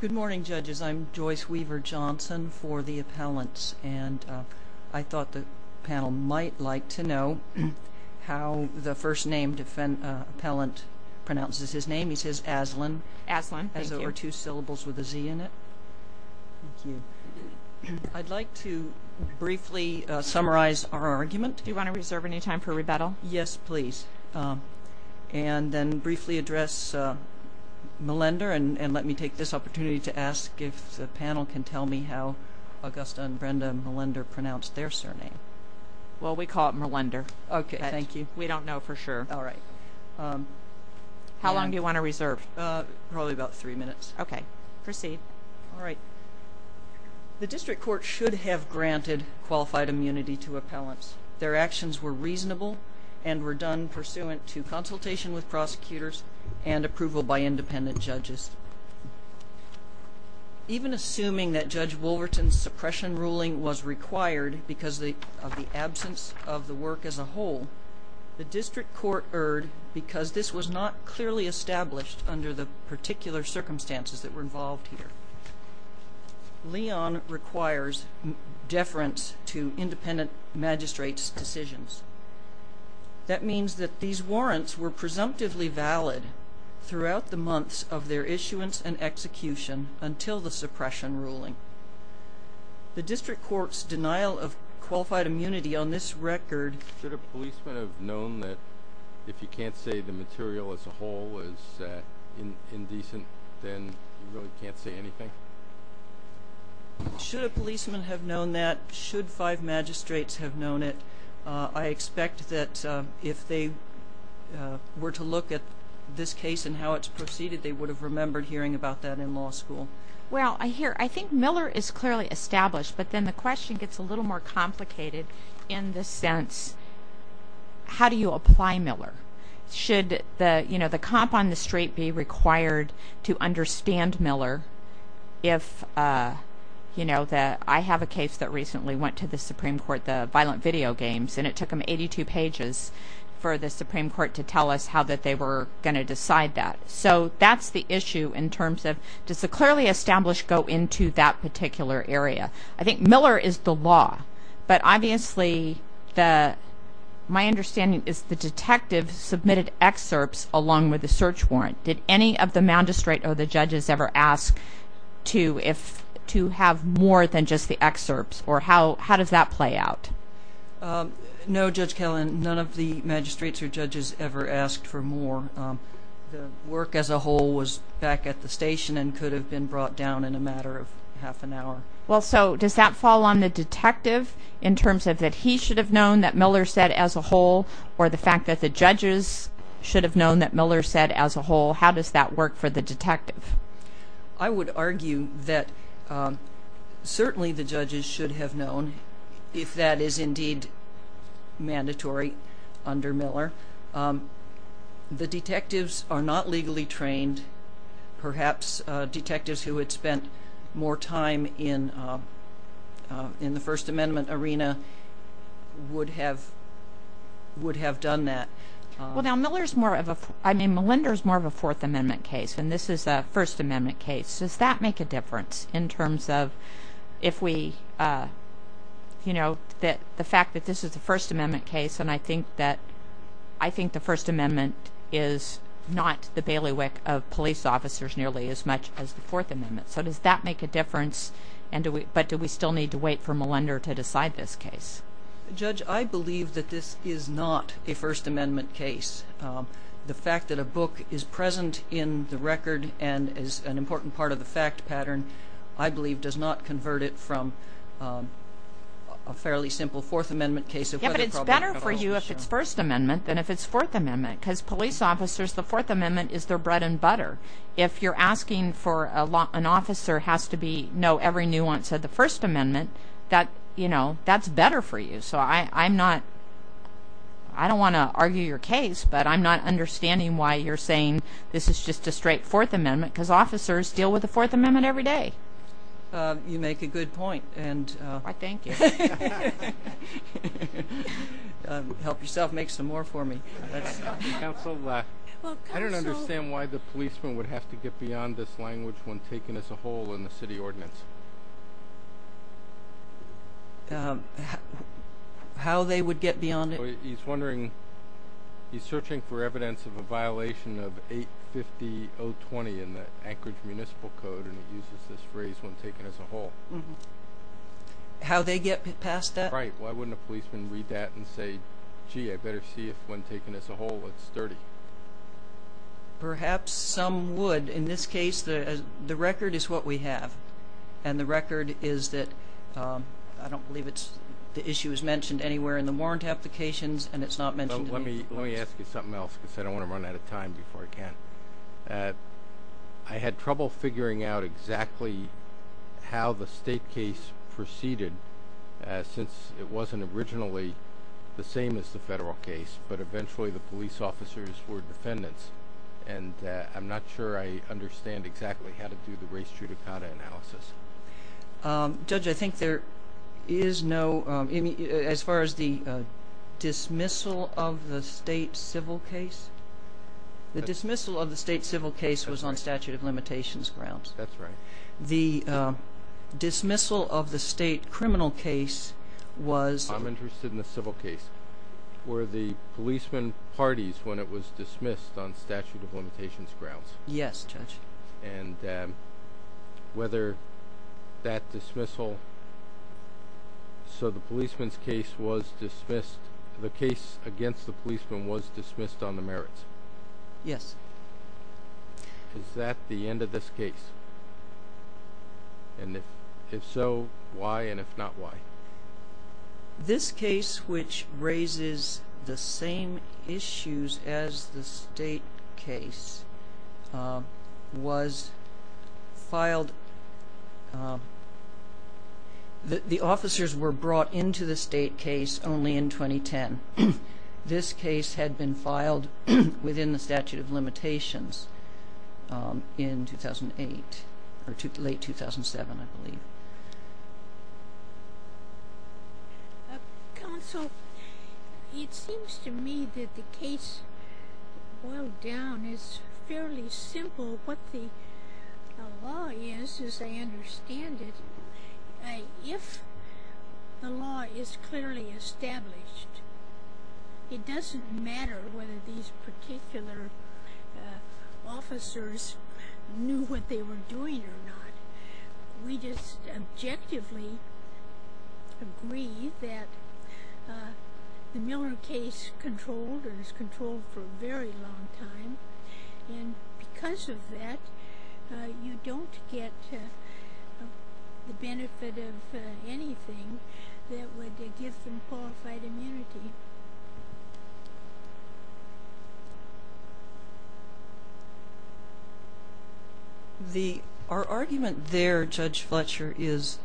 Good morning, judges. I'm Joyce Weaver Johnson for the appellants, and I thought the panel might like to know how the first named appellant pronounces his name. He says Asselin. Asselin, thank you. Has over two syllables with a Z in it. Thank you. I'd like to briefly summarize our argument. Do you want to reserve any time for rebuttal? Yes, please. And then briefly address Melinda, and let me take this opportunity to ask if the panel can tell me how Augusta and Brenda and Melinda pronounce their surname. Well, we call it Melinda. Okay, thank you. We don't know for sure. All right. How long do you want to reserve? Probably about three minutes. Okay. Proceed. All right. The district court should have granted qualified immunity to appellants. Their actions were reasonable and were done pursuant to consultation with prosecutors and approval by independent judges. Even assuming that Judge Wolverton's suppression ruling was required because of the absence of the work as a whole, the district court erred because this was not clearly established under the particular circumstances that were involved here. Leon requires deference to independent magistrates' decisions. That means that these warrants were presumptively valid throughout the months of their issuance and execution until the suppression ruling. The district court's denial of qualified immunity on this record… Should a policeman have known that if you can't say the material as a whole is indecent, then you really can't say anything? Should a policeman have known that, should five magistrates have known it, I expect that if they were to look at this case and how it's proceeded, they would have remembered hearing about that in law school. Well, I hear. I think Miller is clearly established, but then the question gets a little more complicated in the sense, how do you apply Miller? Should the cop on the street be required to understand Miller? I have a case that recently went to the Supreme Court, the violent video games, and it took them 82 pages for the Supreme Court to tell us how they were going to decide that. So that's the issue in terms of, does the clearly established go into that particular area? I think Miller is the law, but obviously my understanding is the detective submitted excerpts along with the search warrant. Did any of the magistrate or the judges ever ask to have more than just the excerpts, or how does that play out? No, Judge Kellen, none of the magistrates or judges ever asked for more. The work as a whole was back at the station and could have been brought down in a matter of half an hour. Well, so does that fall on the detective in terms of that he should have known that Miller said as a whole, or the fact that the judges should have known that Miller said as a whole? How does that work for the detective? I would argue that certainly the judges should have known, if that is indeed mandatory under Miller. The detectives are not legally trained. Perhaps detectives who had spent more time in the First Amendment arena would have done that. Well, now Miller is more of a, I mean, Malinder is more of a Fourth Amendment case, and this is a First Amendment case. Does that make a difference in terms of the fact that this is a First Amendment case, and I think the First Amendment is not the bailiwick of police officers nearly as much as the Fourth Amendment? So does that make a difference, but do we still need to wait for Malinder to decide this case? Judge, I believe that this is not a First Amendment case. The fact that a book is present in the record and is an important part of the fact pattern, I believe, does not convert it from a fairly simple Fourth Amendment case. Yeah, but it's better for you if it's First Amendment than if it's Fourth Amendment, because police officers, the Fourth Amendment is their bread and butter. If you're asking for an officer has to know every nuance of the First Amendment, that's better for you. So I'm not, I don't want to argue your case, but I'm not understanding why you're saying this is just a straight Fourth Amendment, because officers deal with the Fourth Amendment every day. You make a good point. Why, thank you. Help yourself, make some more for me. Counsel, I don't understand why the policeman would have to get beyond this language when taken as a whole in the city ordinance. How they would get beyond it? He's searching for evidence of a violation of 850.020 in the Anchorage Municipal Code, and it uses this phrase, when taken as a whole. How they get past that? Right. Why wouldn't a policeman read that and say, gee, I better see if when taken as a whole it's sturdy? Perhaps some would. And in this case, the record is what we have. And the record is that, I don't believe the issue is mentioned anywhere in the warrant applications, and it's not mentioned in these cases. Let me ask you something else, because I don't want to run out of time before I can. I had trouble figuring out exactly how the state case proceeded, since it wasn't originally the same as the federal case, but eventually the police officers were defendants. And I'm not sure I understand exactly how to do the race judicata analysis. Judge, I think there is no, as far as the dismissal of the state civil case? The dismissal of the state civil case was on statute of limitations grounds. That's right. The dismissal of the state criminal case was? I'm interested in the civil case. Were the policemen parties when it was dismissed on statute of limitations grounds? Yes, Judge. And whether that dismissal, so the policeman's case was dismissed, the case against the policeman was dismissed on the merits? Yes. Is that the end of this case? And if so, why, and if not, why? This case, which raises the same issues as the state case, was filed, the officers were brought into the state case only in 2010. This case had been filed within the statute of limitations in 2008, or late 2007, I believe. Counsel, it seems to me that the case, boiled down, is fairly simple. What the law is, as I understand it, if the law is clearly established, it doesn't matter whether these particular officers knew what they were doing or not. We just objectively agree that the Miller case controlled, or is controlled for a very long time, and because of that, you don't get the benefit of anything that would give them qualified immunity. Our argument there, Judge Fletcher, is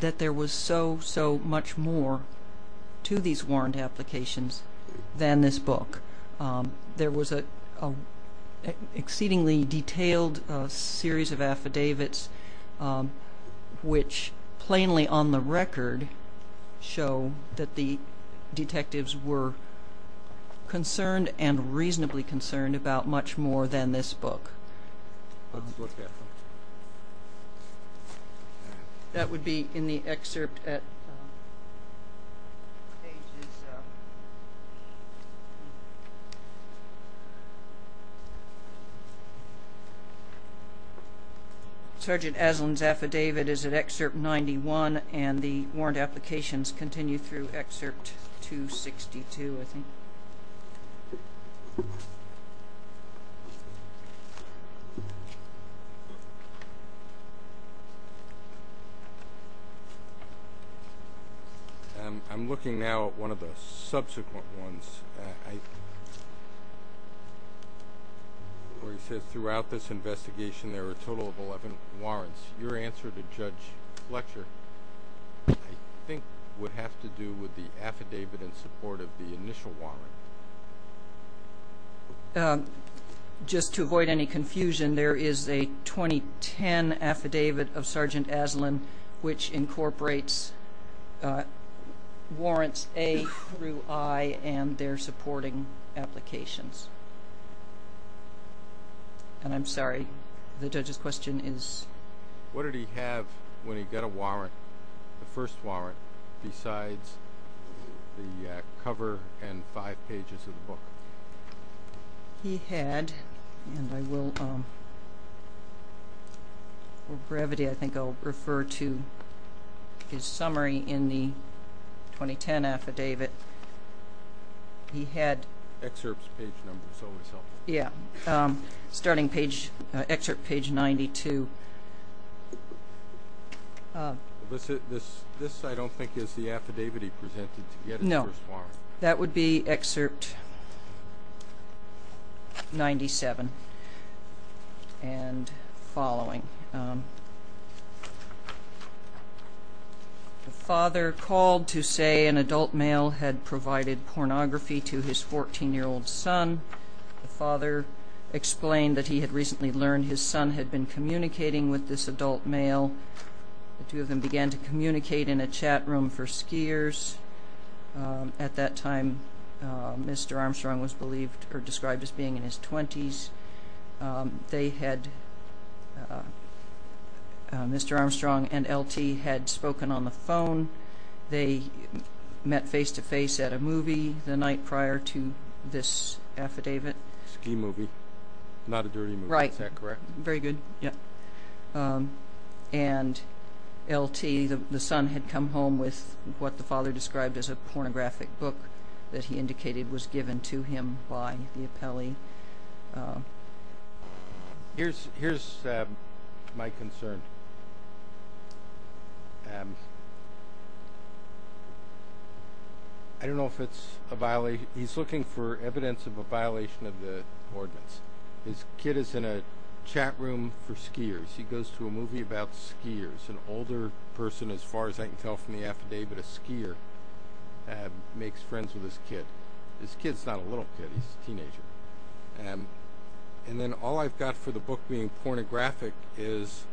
that there was so, so much more to these warrant applications than this book. There was an exceedingly detailed series of affidavits which, plainly on the record, show that the detectives were concerned and reasonably concerned about much more than this book. That would be in the excerpt at pages... Sergeant Aslan's affidavit is at excerpt 91, and the warrant applications continue through excerpt 262, I think. I'm looking now at one of the subsequent ones, where he says, Throughout this investigation, there were a total of 11 warrants. Your answer to Judge Fletcher, I think, would have to do with the affidavit in support of the initial warrant. Just to avoid any confusion, there is a 2010 affidavit of Sergeant Aslan which incorporates warrants A through I and their supporting applications. What did he have when he got a warrant, the first warrant, besides the cover and five pages of the book? Yeah, starting excerpt page 92. No, that would be excerpt 97 and following. The father called to say an adult male had provided pornography to his 14-year-old son. The father explained that he had recently learned his son had been communicating with this adult male. The two of them began to communicate in a chat room for skiers. At that time, Mr. Armstrong was described as being in his twenties. Mr. Armstrong and L.T. had spoken on the phone. They met face-to-face at a movie the night prior to this affidavit. A ski movie, not a dirty movie, is that correct? Right. Very good. And L.T., the son, had come home with what the father described as a pornographic book that he indicated was given to him by the appellee. Here's my concern. I don't know if it's a violation. He's looking for evidence of a violation of the ordinance. His kid is in a chat room for skiers. He goes to a movie about skiers. An older person, as far as I can tell from the affidavit, a skier, makes friends with his kid. His kid's not a little kid. He's a teenager. And then all I've got for the book being pornographic is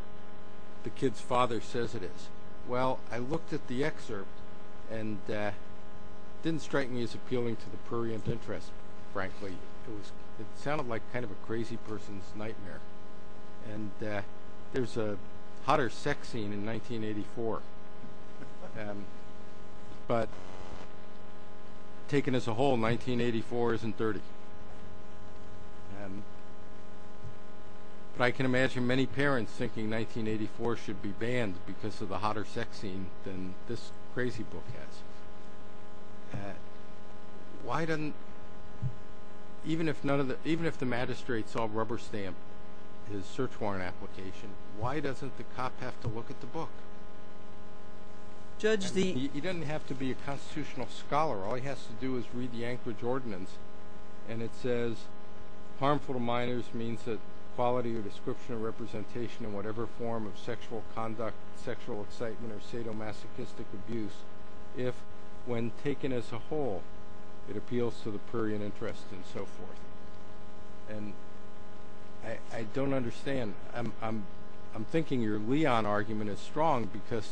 the kid's father says it is. Well, I looked at the excerpt and it didn't strike me as appealing to the prurient interest, frankly. It sounded like kind of a crazy person's nightmare. And there's a hotter sex scene in 1984, but taken as a whole, 1984 isn't dirty. But I can imagine many parents thinking 1984 should be banned because of the hotter sex scene than this crazy book has. Even if the magistrate saw Rubber Stamp, his search warrant application, why doesn't the cop have to look at the book? He doesn't have to be a constitutional scholar. All he has to do is read the Anchorage Ordinance. And it says harmful to minors means that quality or description or representation in whatever form of sexual conduct, sexual excitement or sadomasochistic abuse, if when taken as a whole, it appeals to the prurient interest and so forth. And I don't understand. I'm thinking your Leon argument is strong because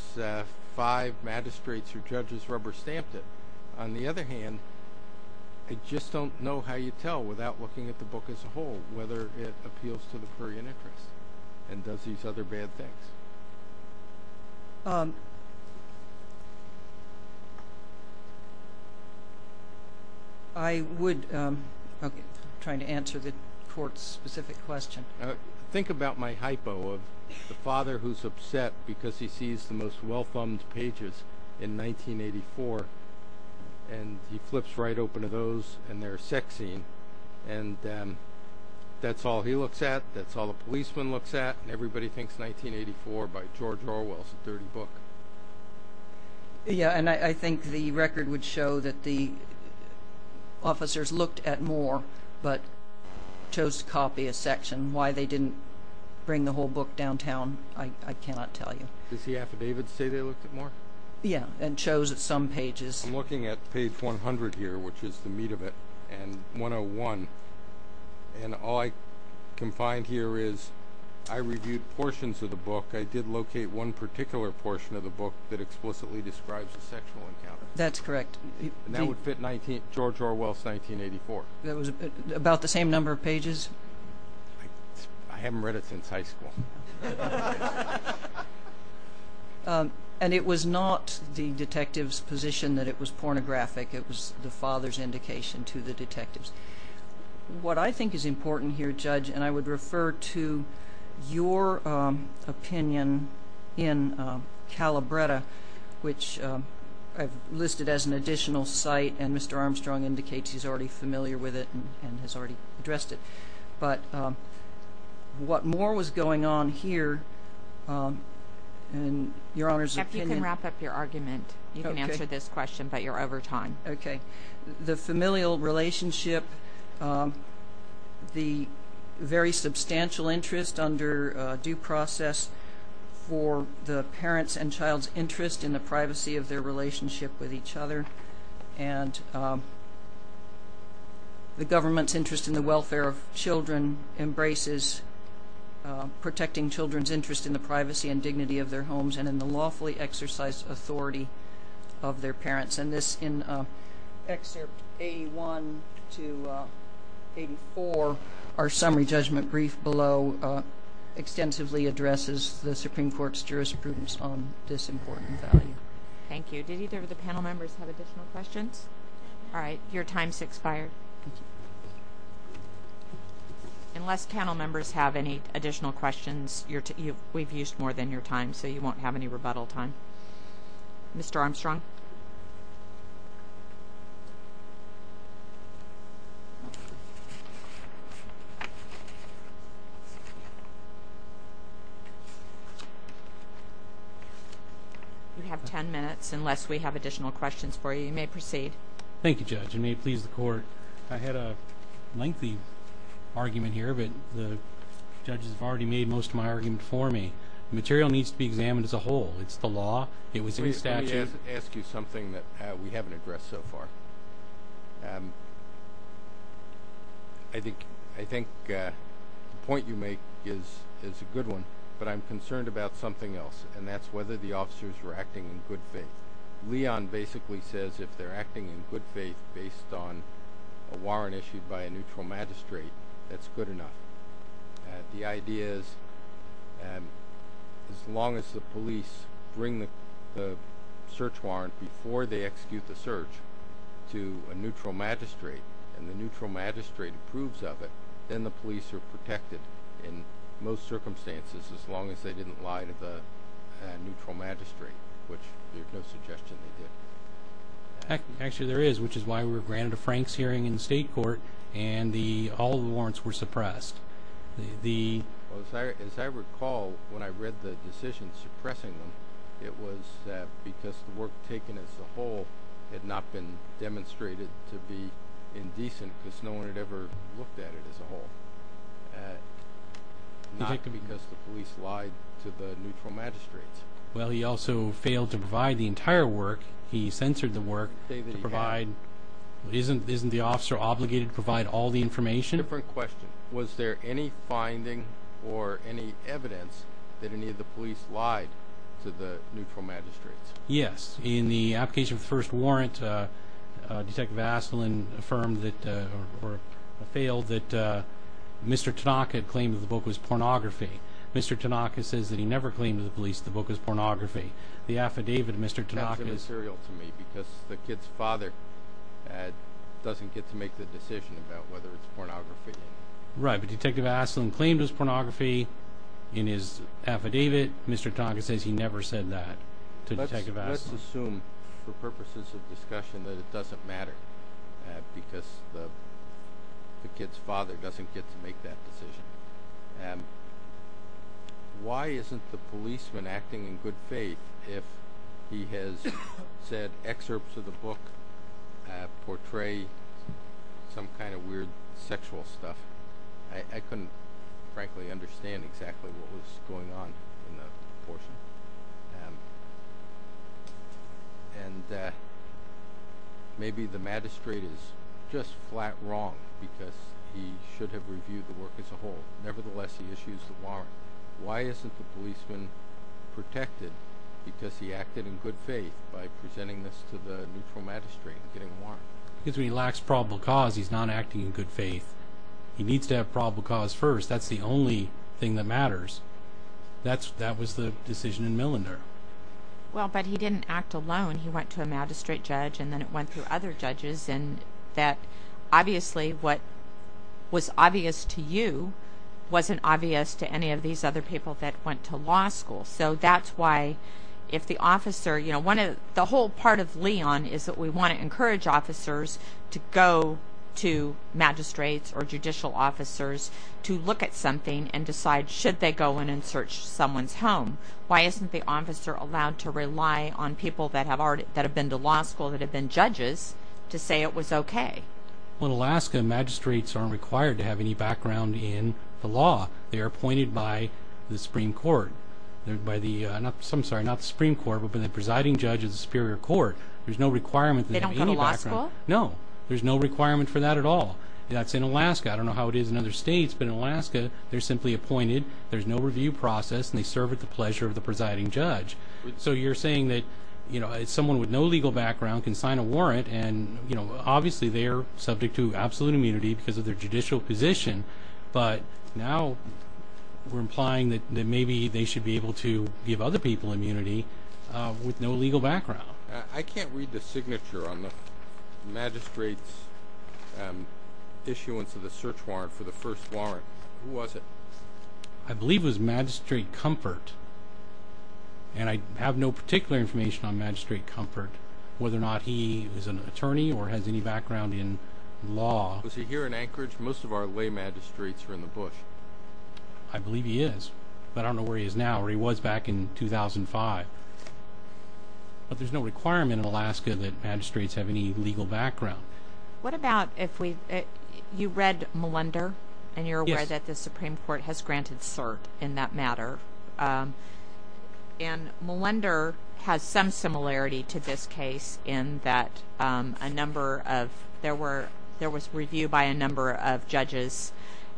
five magistrates or judges rubber stamped it. On the other hand, I just don't know how you tell without looking at the book as a whole whether it appeals to the prurient interest and does these other bad things. I'm trying to answer the court's specific question. Think about my hypo of the father who's upset because he sees the most well-thumbed pages in 1984 and he flips right open to those and their sex scene. And that's all he looks at. That's all the policeman looks at. Everybody thinks 1984 by George Orwell is a dirty book. Yeah, and I think the record would show that the officers looked at more but chose to copy a section. Why they didn't bring the whole book downtown, I cannot tell you. Does the affidavit say they looked at more? Yeah, and chose some pages. I'm looking at page 100 here, which is the meat of it, and 101, and all I can find here is I reviewed portions of the book. I did locate one particular portion of the book that explicitly describes the sexual encounter. That's correct. And that would fit George Orwell's 1984. That was about the same number of pages? I haven't read it since high school. And it was not the detective's position that it was pornographic. It was the father's indication to the detectives. What I think is important here, Judge, and I would refer to your opinion in Calabretta, which I've listed as an additional site, and Mr. Armstrong indicates he's already familiar with it and has already addressed it. But what more was going on here in your Honor's opinion? Jeff, you can wrap up your argument. You can answer this question, but you're over time. Okay. The familial relationship, the very substantial interest under due process for the parents and child's interest in the privacy of their relationship with each other, and the government's interest in the welfare of children embraces protecting children's interest in the privacy and dignity of their homes and in the lawfully exercised authority of their parents. And this in excerpt 81 to 84, our summary judgment brief below extensively addresses the Supreme Court's jurisprudence on this important value. Thank you. Did either of the panel members have additional questions? All right. Your time's expired. Unless panel members have any additional questions, we've used more than your time, so you won't have any rebuttal time. Mr. Armstrong? Mr. Armstrong? You have 10 minutes, unless we have additional questions for you. You may proceed. Thank you, Judge. It may please the Court. I had a lengthy argument here, but the judges have already made most of my argument for me. The material needs to be examined as a whole. It's the law. It was in statute. Let me ask you something that we haven't addressed so far. I think the point you make is a good one, but I'm concerned about something else, and that's whether the officers were acting in good faith. Leon basically says if they're acting in good faith based on a warrant issued by a neutral magistrate, that's good enough. The idea is as long as the police bring the search warrant before they execute the search to a neutral magistrate and the neutral magistrate approves of it, then the police are protected in most circumstances as long as they didn't lie to the neutral magistrate, which there's no suggestion they did. Actually, there is, which is why we were granted a Franks hearing in the state court and all the warrants were suppressed. As I recall, when I read the decision suppressing them, it was because the work taken as a whole had not been demonstrated to be indecent because no one had ever looked at it as a whole, not because the police lied to the neutral magistrates. Well, he also failed to provide the entire work. He censored the work. Isn't the officer obligated to provide all the information? Different question. Was there any finding or any evidence that any of the police lied to the neutral magistrates? Yes. In the application of the first warrant, Detective Vaseline failed that Mr. Tanaka claimed that the book was pornography. Mr. Tanaka says that he never claimed to the police that the book was pornography. That's immaterial to me because the kid's father doesn't get to make the decision about whether it's pornography. Right, but Detective Vaseline claimed it was pornography in his affidavit. Mr. Tanaka says he never said that to Detective Vaseline. Let's assume for purposes of discussion that it doesn't matter because the kid's father doesn't get to make that decision. Why isn't the policeman acting in good faith if he has said excerpts of the book portray some kind of weird sexual stuff? I couldn't, frankly, understand exactly what was going on in that portion. Maybe the magistrate is just flat wrong because he should have reviewed the work as a whole. Nevertheless, he issues the warrant. Why isn't the policeman protected because he acted in good faith by presenting this to the neutral magistrate and getting a warrant? Because when he lacks probable cause, he's not acting in good faith. He needs to have probable cause first. That's the only thing that matters. That was the decision in Millinder. Well, but he didn't act alone. He went to a magistrate judge and then it went to other judges. Obviously, what was obvious to you wasn't obvious to any of these other people that went to law school. The whole part of Leon is that we want to encourage officers to go to magistrates or judicial officers to look at something and decide should they go in and search someone's home. Why isn't the officer allowed to rely on people that have been to law school that have been judges to say it was okay? Well, in Alaska, magistrates aren't required to have any background in the law. They are appointed by the Supreme Court. I'm sorry, not the Supreme Court, but the presiding judge of the Superior Court. There's no requirement to have any background. They don't go to law school? No. There's no requirement for that at all. That's in Alaska. I don't know how it is in other states, but in Alaska, they're simply appointed. There's no review process and they serve at the pleasure of the presiding judge. So you're saying that someone with no legal background can sign a warrant and obviously they're subject to absolute immunity because of their judicial position, but now we're implying that maybe they should be able to give other people immunity with no legal background. I can't read the signature on the magistrate's issuance of the search warrant for the first warrant. Who was it? I believe it was Magistrate Comfort, and I have no particular information on Magistrate Comfort, whether or not he is an attorney or has any background in law. Was he here in Anchorage? Most of our lay magistrates are in the Bush. I believe he is, but I don't know where he is now or where he was back in 2005. But there's no requirement in Alaska that magistrates have any legal background. What about if we – you read Malunder and you're aware that the Supreme Court has granted cert in that matter. And Malunder has some similarity to this case in that a number of – there was review by a number of judges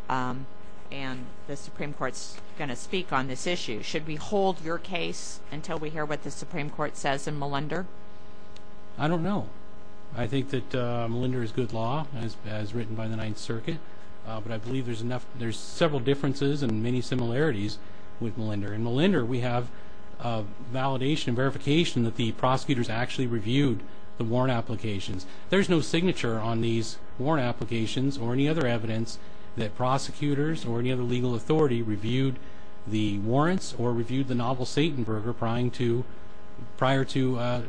and the Supreme Court's going to speak on this issue. Should we hold your case until we hear what the Supreme Court says in Malunder? I don't know. I think that Malunder is good law, as written by the Ninth Circuit. But I believe there's several differences and many similarities with Malunder. In Malunder, we have validation and verification that the prosecutors actually reviewed the warrant applications. There's no signature on these warrant applications or any other evidence that prosecutors or any other legal authority reviewed the warrants or reviewed the novel Satenberger prior to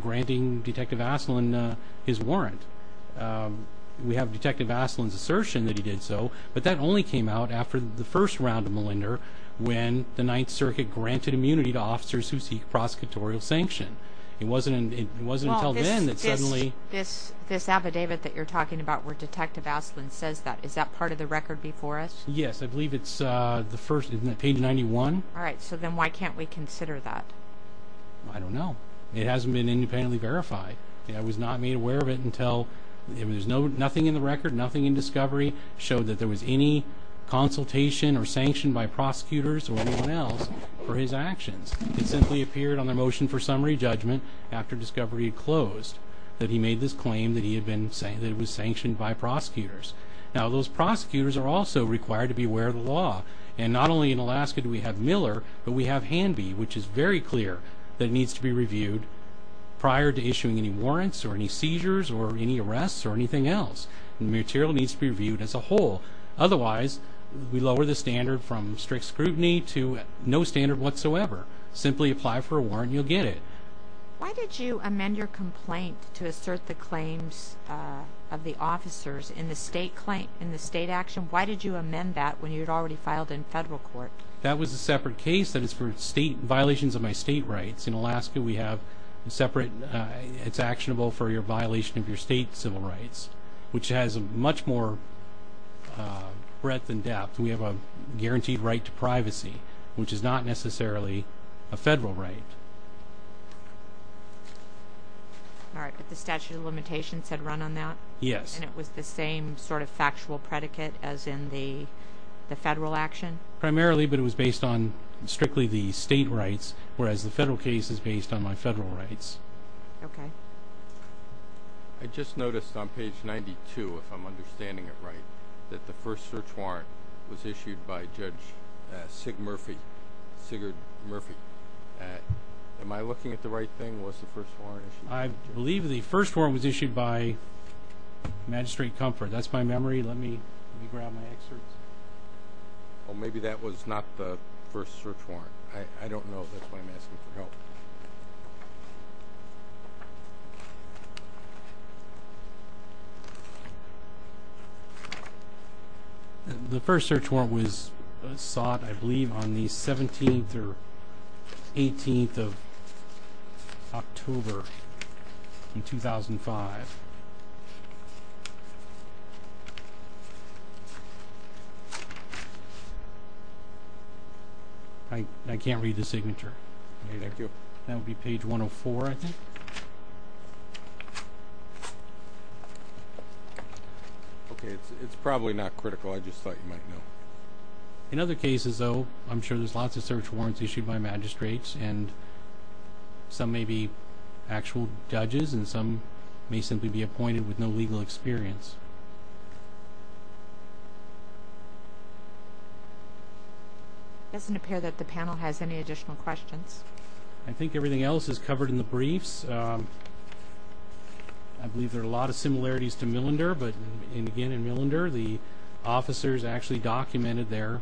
granting Detective Aslin his warrant. We have Detective Aslin's assertion that he did so, but that only came out after the first round of Malunder when the Ninth Circuit granted immunity to officers who seek prosecutorial sanction. It wasn't until then that suddenly – This affidavit that you're talking about where Detective Aslin says that, is that part of the record before us? Yes, I believe it's the first – isn't that page 91? All right, so then why can't we consider that? I don't know. It hasn't been independently verified. I was not made aware of it until – there's nothing in the record, nothing in discovery, showed that there was any consultation or sanction by prosecutors or anyone else for his actions. It simply appeared on the motion for summary judgment after discovery had closed that he made this claim that he had been – that it was sanctioned by prosecutors. Now, those prosecutors are also required to be aware of the law, and not only in Alaska do we have Miller, but we have Hanby, which is very clear that it needs to be reviewed prior to issuing any warrants or any seizures or any arrests or anything else. The material needs to be reviewed as a whole. Otherwise, we lower the standard from strict scrutiny to no standard whatsoever. Simply apply for a warrant and you'll get it. Why did you amend your complaint to assert the claims of the officers in the state action? Why did you amend that when you had already filed in federal court? That was a separate case that is for violations of my state rights. In Alaska, we have separate – it's actionable for your violation of your state civil rights, which has much more breadth and depth. We have a guaranteed right to privacy, which is not necessarily a federal right. All right, but the statute of limitations had run on that? Yes. And it was the same sort of factual predicate as in the federal action? Primarily, but it was based on strictly the state rights, whereas the federal case is based on my federal rights. Okay. I just noticed on page 92, if I'm understanding it right, that the first search warrant was issued by Judge Sig Murphy, Sigurd Murphy. Am I looking at the right thing? Was the first warrant issued? I believe the first warrant was issued by Magistrate Comfort. That's my memory. Let me grab my excerpts. Well, maybe that was not the first search warrant. I don't know. That's why I'm asking for help. The first search warrant was sought, I believe, on the 17th or 18th of October in 2005. I can't read the signature. Thank you. That would be page 104, I think. Okay, it's probably not critical. I just thought you might know. In other cases, though, I'm sure there's lots of search warrants issued by magistrates, and some may be actual judges, and some may simply be appointed with no legal experience. It doesn't appear that the panel has any additional questions. I think everything else is covered in the briefs. I believe there are a lot of similarities to Millender, but, again, in Millender, the officers actually documented their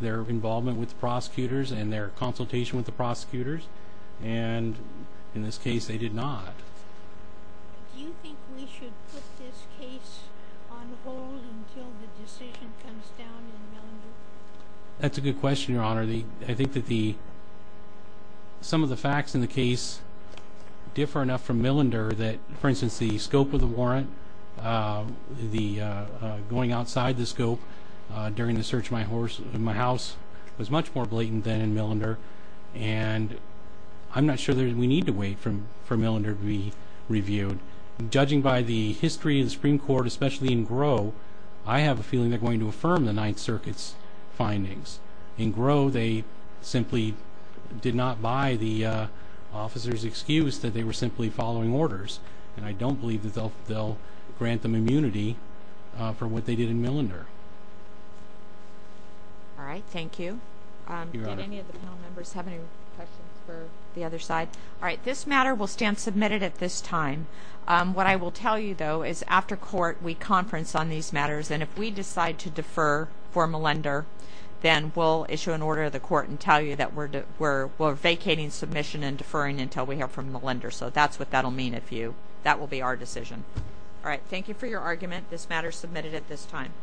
involvement with the prosecutors and their consultation with the prosecutors, and in this case, they did not. Do you think we should put this case on hold until the decision comes down in Millender? Judging by the history of the Supreme Court, especially in Gros, I have a feeling they're going to affirm the Ninth Circuit's findings. In Gros, they simply did not buy the officers' excuse that they were simply following orders, and I don't believe that they'll grant them immunity for what they did in Millender. All right, thank you. Did any of the panel members have any questions for the other side? All right, this matter will stand submitted at this time. What I will tell you, though, is after court, we conference on these matters, and if we decide to defer for Millender, then we'll issue an order to the court and tell you that we're vacating submission and deferring until we hear from Millender. So that's what that will mean if you—that will be our decision. All right, thank you for your argument. This matter is submitted at this time.